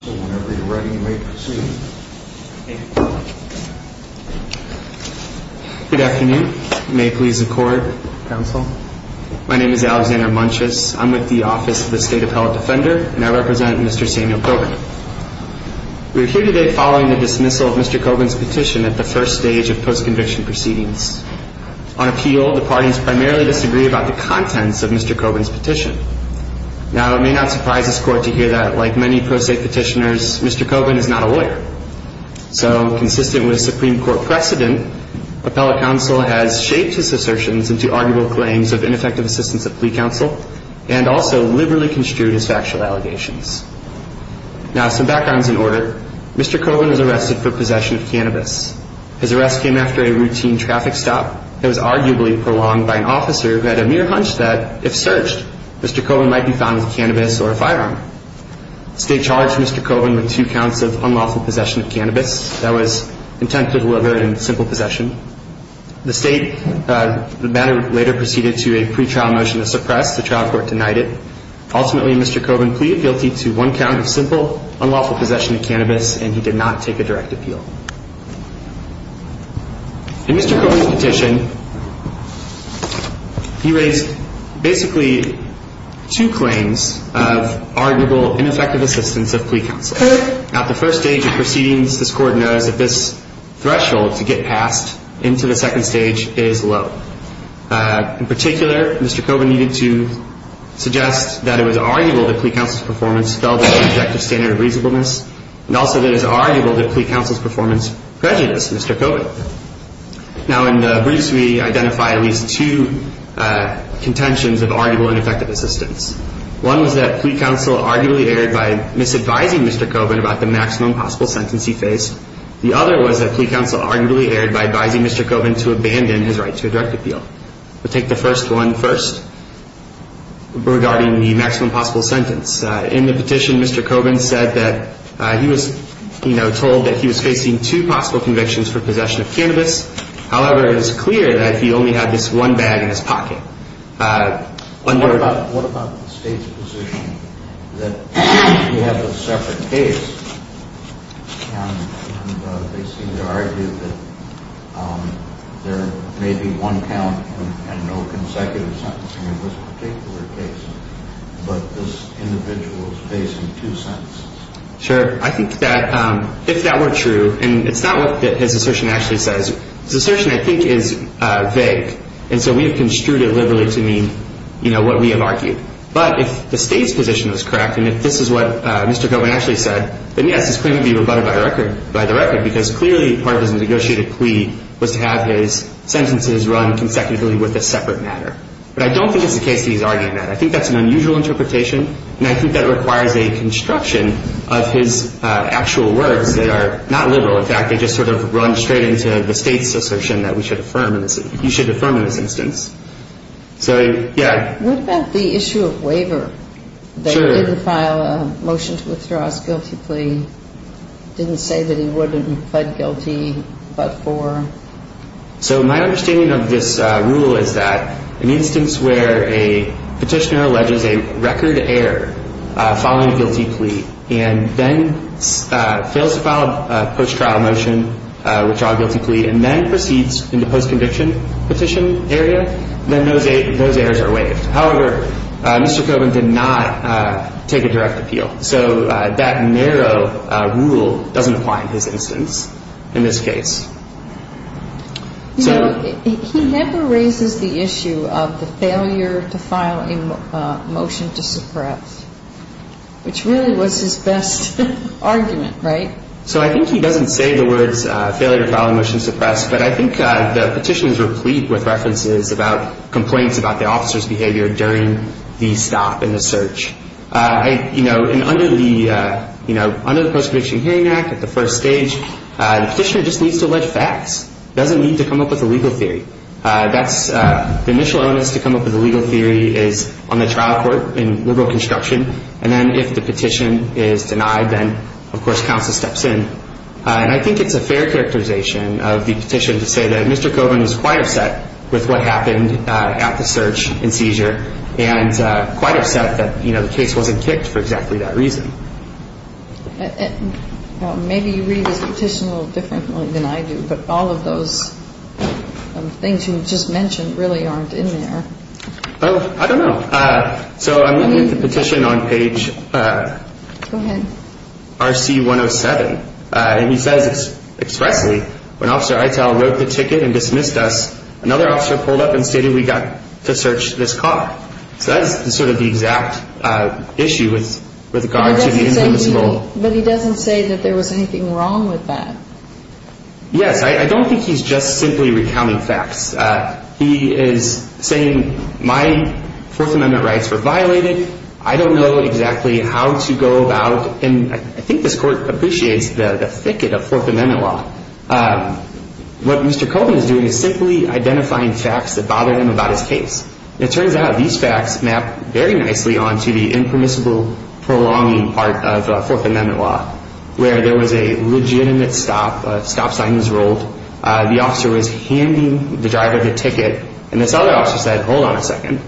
Good afternoon. You may please accord, counsel. My name is Alexander Munches. I'm with the Office of the State Appellate Defender, and I represent Mr. Samuel Coker. We are here today following the dismissal of Mr. Cobin's petition at the first stage of post-conviction proceedings. On appeal, the parties primarily disagree about the contents of Mr. Cobin's Mr. Cobin is not a lawyer. So, consistent with Supreme Court precedent, appellate counsel has shaped his assertions into arguable claims of ineffective assistance of plea counsel, and also liberally construed his factual allegations. Now, some backgrounds in order. Mr. Cobin was arrested for possession of cannabis. His arrest came after a routine traffic stop that was arguably prolonged by an officer who had a mere hunch that, if searched, Mr. Cobin might be found with cannabis or a firearm. The state charged Mr. Cobin with two counts of unlawful possession of cannabis that was intended to deliver in simple possession. The state later proceeded to a pretrial motion to suppress. The trial court denied it. Ultimately, Mr. Cobin pleaded guilty to one count of simple, unlawful possession of cannabis, and he did not take a direct appeal. In Mr. Cobin's petition, he raised basically two claims of arguable ineffective assistance of plea counsel. Now, at the first stage of proceedings, this court knows that this threshold to get past into the second stage is low. In particular, Mr. Cobin needed to suggest that it was arguable that plea counsel's performance fell below the objective standard of reasonableness, and also that it was arguable that plea counsel's performance prejudiced Mr. Cobin. Now, in the briefs, we identify at least two contentions of arguable ineffective assistance. One was that plea counsel arguably erred by misadvising Mr. Cobin about the maximum possible sentence he faced. The other was that plea counsel arguably erred by advising Mr. Cobin to abandon his right to a direct appeal. We'll take the first one first, regarding the maximum possible sentence. In the petition, Mr. Cobin said that he was, you know, told that he was facing two possible convictions for possession of cannabis. However, it is clear that he only had this one bag in his pocket. What about the state's position that we have a separate case, and they seem to argue that there may be one count and no consecutive sentencing in this particular case, but this individual is facing two sentences? Sure. I think that if that were true, and it's not what his assertion actually says. His assertion, I think, is vague, and so we have construed it liberally to mean, you know, what we have argued. But if the state's position is correct, and if this is what Mr. Cobin actually said, then, yes, his claim would be rebutted by the record, because clearly part of his negotiated plea was to have his sentences run consecutively with a separate matter. But I don't think it's the case that he's arguing that. I think that's an unusual interpretation, and I think that requires a construction of his actual words. They are not liberal. In fact, they just sort of run straight into the state's assertion that we should affirm, you should affirm in this instance. So, yeah. What about the issue of waiver? They didn't file a motion to withdraw his guilty plea, didn't say that he would have guilty but for? So my understanding of this rule is that an instance where a petitioner alleges a record error filing a guilty plea and then fails to file a post-trial motion, withdraw a guilty plea, and then proceeds into post-conviction petition area, then those errors are waived. However, Mr. Cobin did not take a direct appeal. So that narrow rule doesn't apply in his instance in this case. You know, he never raises the issue of the failure to file a motion to suppress, which really was his best argument, right? So I think he doesn't say the words failure to file a motion to suppress, but I think the petition is replete with references about complaints about the officer's behavior during the stop and the search. You know, and under the, you know, under the Post-Conviction Hearing Act at the first stage, the petitioner just needs to allege facts, doesn't need to come up with a legal theory. The initial onus to come up with a legal theory is on the trial court in liberal construction, and then if the petition is denied, then of course counsel steps in. And I think it's a fair characterization of the petition to say that Mr. Cobin's behavior during the stop and search happened at the search and seizure and quite upset that the case wasn't kicked for exactly that reason. Maybe you read this petition a little differently than I do, but all of those things you just mentioned really aren't in there. Oh, I don't know. So I'm looking at the petition on page RC107, and he says expressly, when Officer Itell wrote the ticket and dismissed us, another officer pulled up and stated we got to search this cop. So that's sort of the exact issue with regard to the infamous role. But he doesn't say that there was anything wrong with that. Yes, I don't think he's just simply recounting facts. He is saying my Fourth Amendment rights were violated. I don't know exactly how to go about, and I think this court appreciates the thicket of Fourth Amendment law, but what Mr. Cobin is doing is simply identifying facts that bother him about his case. And it turns out these facts map very nicely onto the impermissible prolonging part of Fourth Amendment law, where there was a legitimate stop, a stop sign was rolled, the officer was handing the driver the ticket, and this other officer said, hold on a second.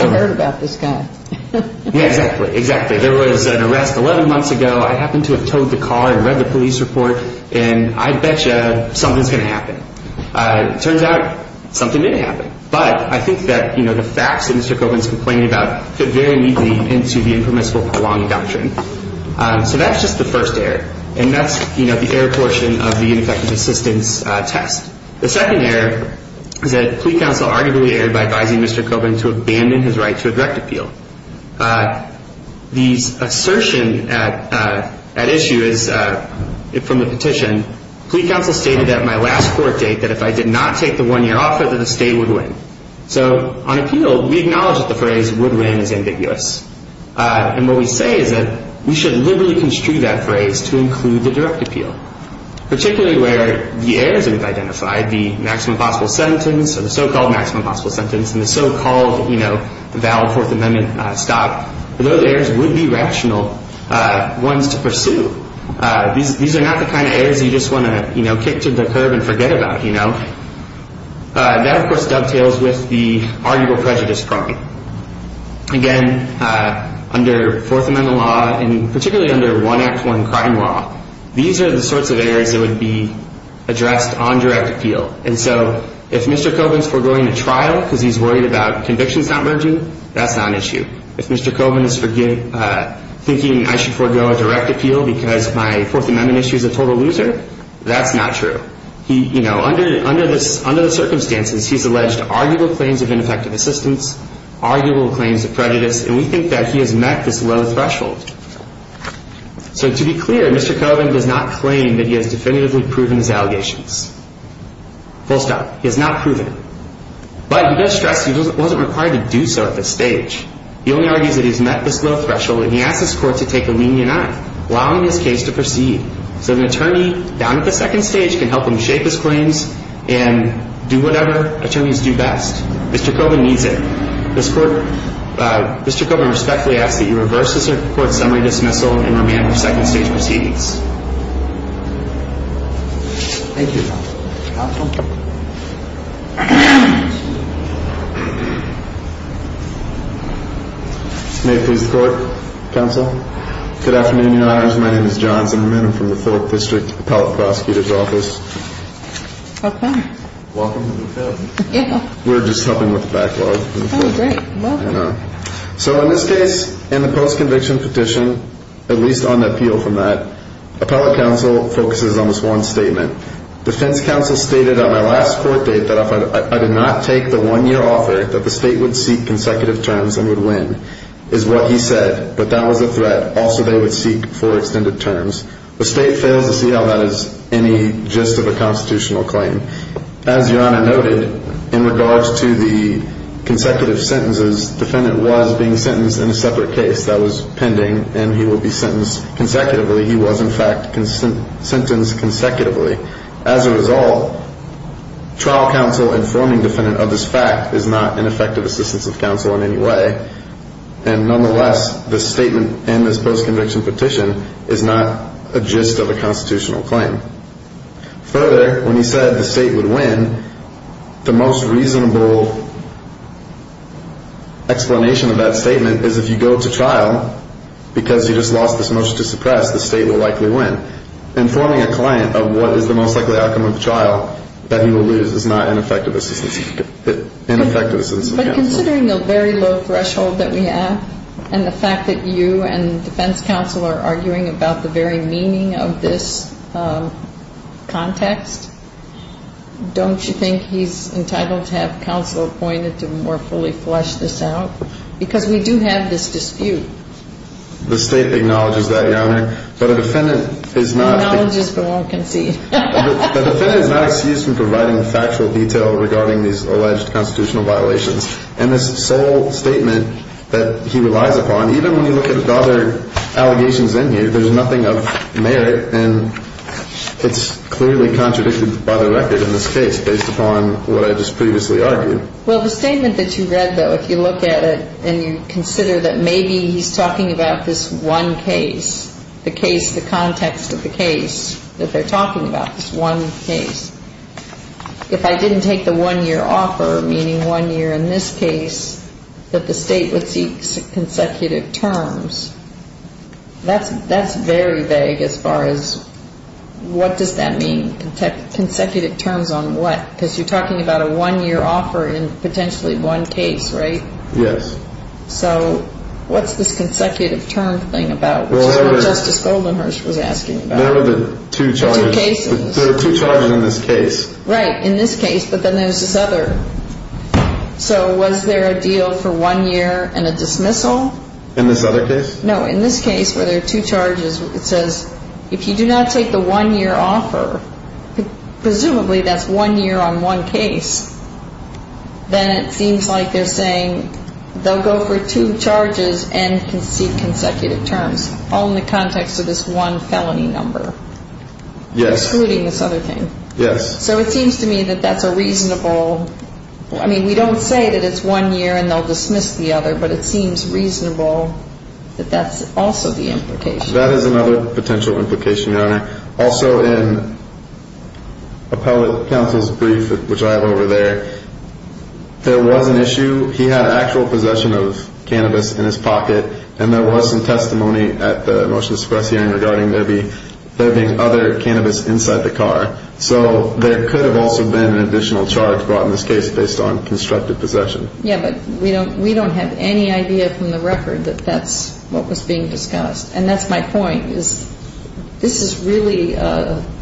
I heard about this guy. Yeah, exactly, exactly. There was an arrest 11 months ago. I happened to have towed the car and read the police report, and I bet you something's going to happen. It turns out something did happen. But I think that the facts that Mr. Cobin is complaining about fit very neatly into the impermissible prolonging doctrine. So that's just the first error, and that's the error portion of the ineffective assistance test. The second error is that plea counsel arguably erred by advising Mr. Cobin to abandon his right to a direct appeal. The assertion at issue is, from the petition, plea counsel stated at my last court date that if I did not take the one-year offer that the state would win. So on appeal, we acknowledge that the phrase would win is ambiguous. And what we say is that we should liberally construe that phrase to include the direct appeal, particularly where the errors are identified, the maximum possible sentence, or the so-called maximum possible sentence, and the so-called valid Fourth Amendment stop. Those errors would be rational ones to pursue. These are not the kind of errors you just want to kick to the curb and forget about. That, of course, dovetails with the arguable prejudice problem. Again, under Fourth Amendment law, and particularly under 1 Act 1 crime law, these are the sorts of errors that would be addressed on direct appeal. And so if Mr. Cobin's foregoing a trial because he's worried about convictions not merging, that's not an issue. If Mr. Cobin is thinking I should forego a direct appeal because my Fourth Amendment issue is a total loser, that's not true. Under the circumstances, he's alleged arguable claims of ineffective assistance, arguable claims of prejudice, and we think that he has met this low threshold. So to be clear, Mr. Cobin does not claim that he has definitively proven his allegations. Full stop. He has not proven it. But he does stress he wasn't required to do so at this stage. He only argues that he's met this low threshold, and he asks his court to take a lenient eye, allowing his case to proceed, so that an attorney down at the second stage can help him shape his claims and do whatever attorneys do best. Mr. Cobin needs it. Mr. Cobin respectfully asks that you reverse this Court's summary dismissal and remand the second stage proceedings. Thank you, counsel. May it please the Court, counsel. Good afternoon, Your Honors. My name is John Zimmerman. I'm from the Phillip District Appellate Prosecutor's Office. Okay. We're just helping with the backlog. So in this case, in the post-conviction petition, at least on appeal from that, Appellate Counsel focuses on this one statement. Defense Counsel stated on my last court date that if I did not take the one-year offer, that the State would seek consecutive terms and would win, is what he said. But that was a threat. Also, they would seek four extended terms. The State fails to see how that is any gist of a constitutional claim. As Your Honor noted, in regards to the consecutive sentences, the defendant was being sentenced in a separate case that was pending, and he will be sentenced consecutively. He was, in fact, sentenced consecutively. As a result, trial counsel informing defendant of this fact is not an effective assistance of counsel in any way. And nonetheless, the statement in this post-conviction petition is not a gist of a constitutional claim. Further, when he said the State would win, the most reasonable explanation of that statement is if you go to trial, because you just lost this motion to suppress, the State will likely win. And informing a client of what is the most likely outcome of the trial that he will lose is not an effective assistance of counsel. But considering the very low threshold that we have and the fact that you and Defense Counsel are arguing about the very meaning of this context, don't you think he's entitled to have counsel appointed to more fully flesh this out? Because we do have this dispute. The State acknowledges that, Your Honor, but a defendant is not... Acknowledges but won't concede. The defendant is not excused from providing the factual detail regarding these alleged constitutional violations. And this sole statement that he relies upon, even when you look at the other allegations in here, there's nothing of merit, and it's clearly contradicted by the record in this case, based upon what I just previously argued. Well, the statement that you read, though, if you look at it and you consider that maybe he's talking about this one case, the case, the context of the case that they're talking about, this one case. If I didn't take the one-year offer, meaning one year in this case, that the State would seek consecutive terms, that's very vague as far as what does that mean, consecutive terms on what? Because you're talking about a one-year offer in potentially one case, right? Yes. So what's this consecutive term thing about, which is what Justice Goldenhurst was asking about? There are two charges in this case. Right, in this case, but then there's this other. So was there a deal for one year and a dismissal? In this other case? No, in this case where there are two charges, it says if you do not take the one-year offer, presumably that's one year on one case, then it seems like they're saying they'll go for two charges and can seek consecutive terms, all in the context of this one felony number. Excluding this other thing. Yes. So it seems to me that that's a reasonable, I mean, we don't say that it's one year and they'll dismiss the other, but it seems reasonable that that's also the implication. That is another potential implication, Your Honor. Also in appellate counsel's brief, which I have over there, there was an issue. He had actual possession of cannabis in his pocket, and there was some testimony at the motion to suppress hearing regarding there being other cannabis inside the car. So there could have also been an additional charge brought in this case based on constructive possession. Yes, but we don't have any idea from the record that that's what was being discussed. And that's my point, is this is really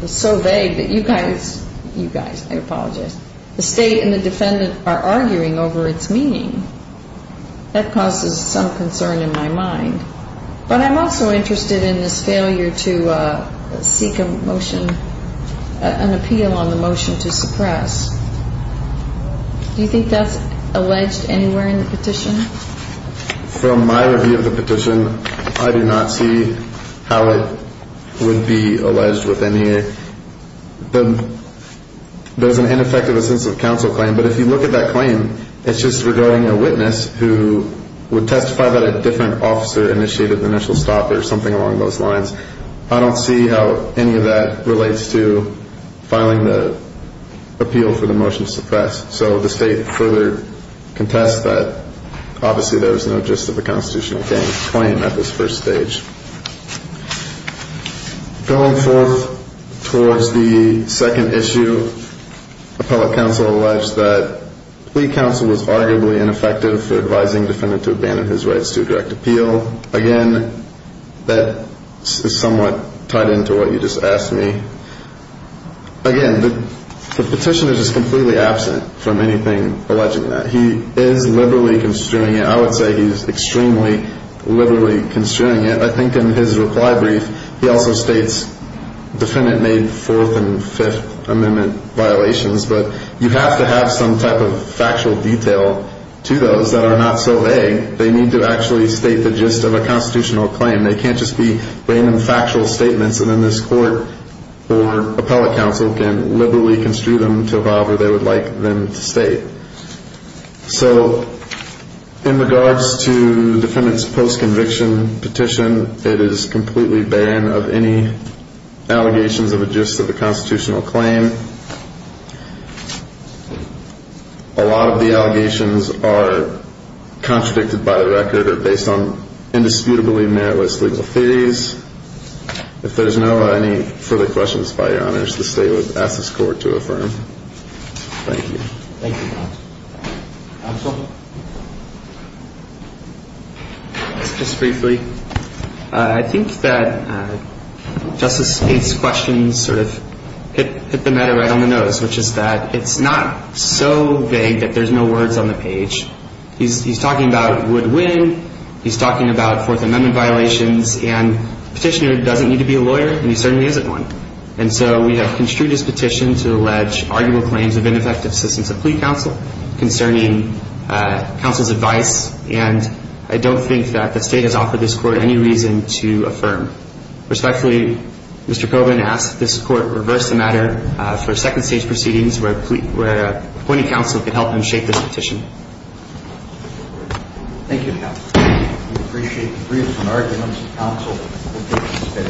so vague that you guys, you guys, I apologize, the State and the defendant are arguing over its meaning. That causes some concern in my mind. But I'm also interested in this failure to seek a motion, an appeal on the motion to suppress. Do you think that's alleged anywhere in the petition? From my review of the petition, I do not see how it would be alleged with any. There's an ineffectiveness of counsel claim, but if you look at that claim, it's just regarding a witness who would testify that a different officer initiated the initial stop or something along those lines. I don't see how any of that relates to filing the appeal for the motion to suppress. So the State further contests that. Obviously, there was no gist of the constitutional claim at this first stage. Going forth towards the second issue, appellate counsel alleged that plea counsel was arguably ineffective for advising defendant to abandon his rights to direct appeal. Again, that is somewhat tied into what you just asked me. Again, the petition is just completely absent from anything alleging that. He is liberally construing it. I would say he's extremely liberally construing it. I think in his reply brief, he also states defendant made Fourth and Fifth Amendment violations. But you have to have some type of factual detail to those that are not so vague. They need to actually state the gist of a constitutional claim. They can't just be random factual statements. And then this court or appellate counsel can liberally construe them to evolve where they would like them to state. So in regards to the defendant's post-conviction petition, it is completely barren of any allegations of a gist of the constitutional claim. A lot of the allegations are contradicted by the record or based on indisputably meritless legal theories. If there's no further questions, by your honors, the state would ask this court to affirm. Thank you. Thank you, counsel. Just briefly, I think that Justice Spade's questions sort of hit the matter right on the nose, which is that it's not so vague that there's no words on the page. He's talking about would-win. He's talking about Fourth Amendment violations. And the petitioner doesn't need to be a lawyer, and he certainly isn't one. And so we have construed his petition to allege arguable claims of ineffective assistance of plea counsel concerning counsel's advice. And I don't think that the state has offered this court any reason to affirm. Respectfully, Mr. Coburn asks that this court reverse the matter for second-stage proceedings where appointing counsel could help him shape this petition. Thank you.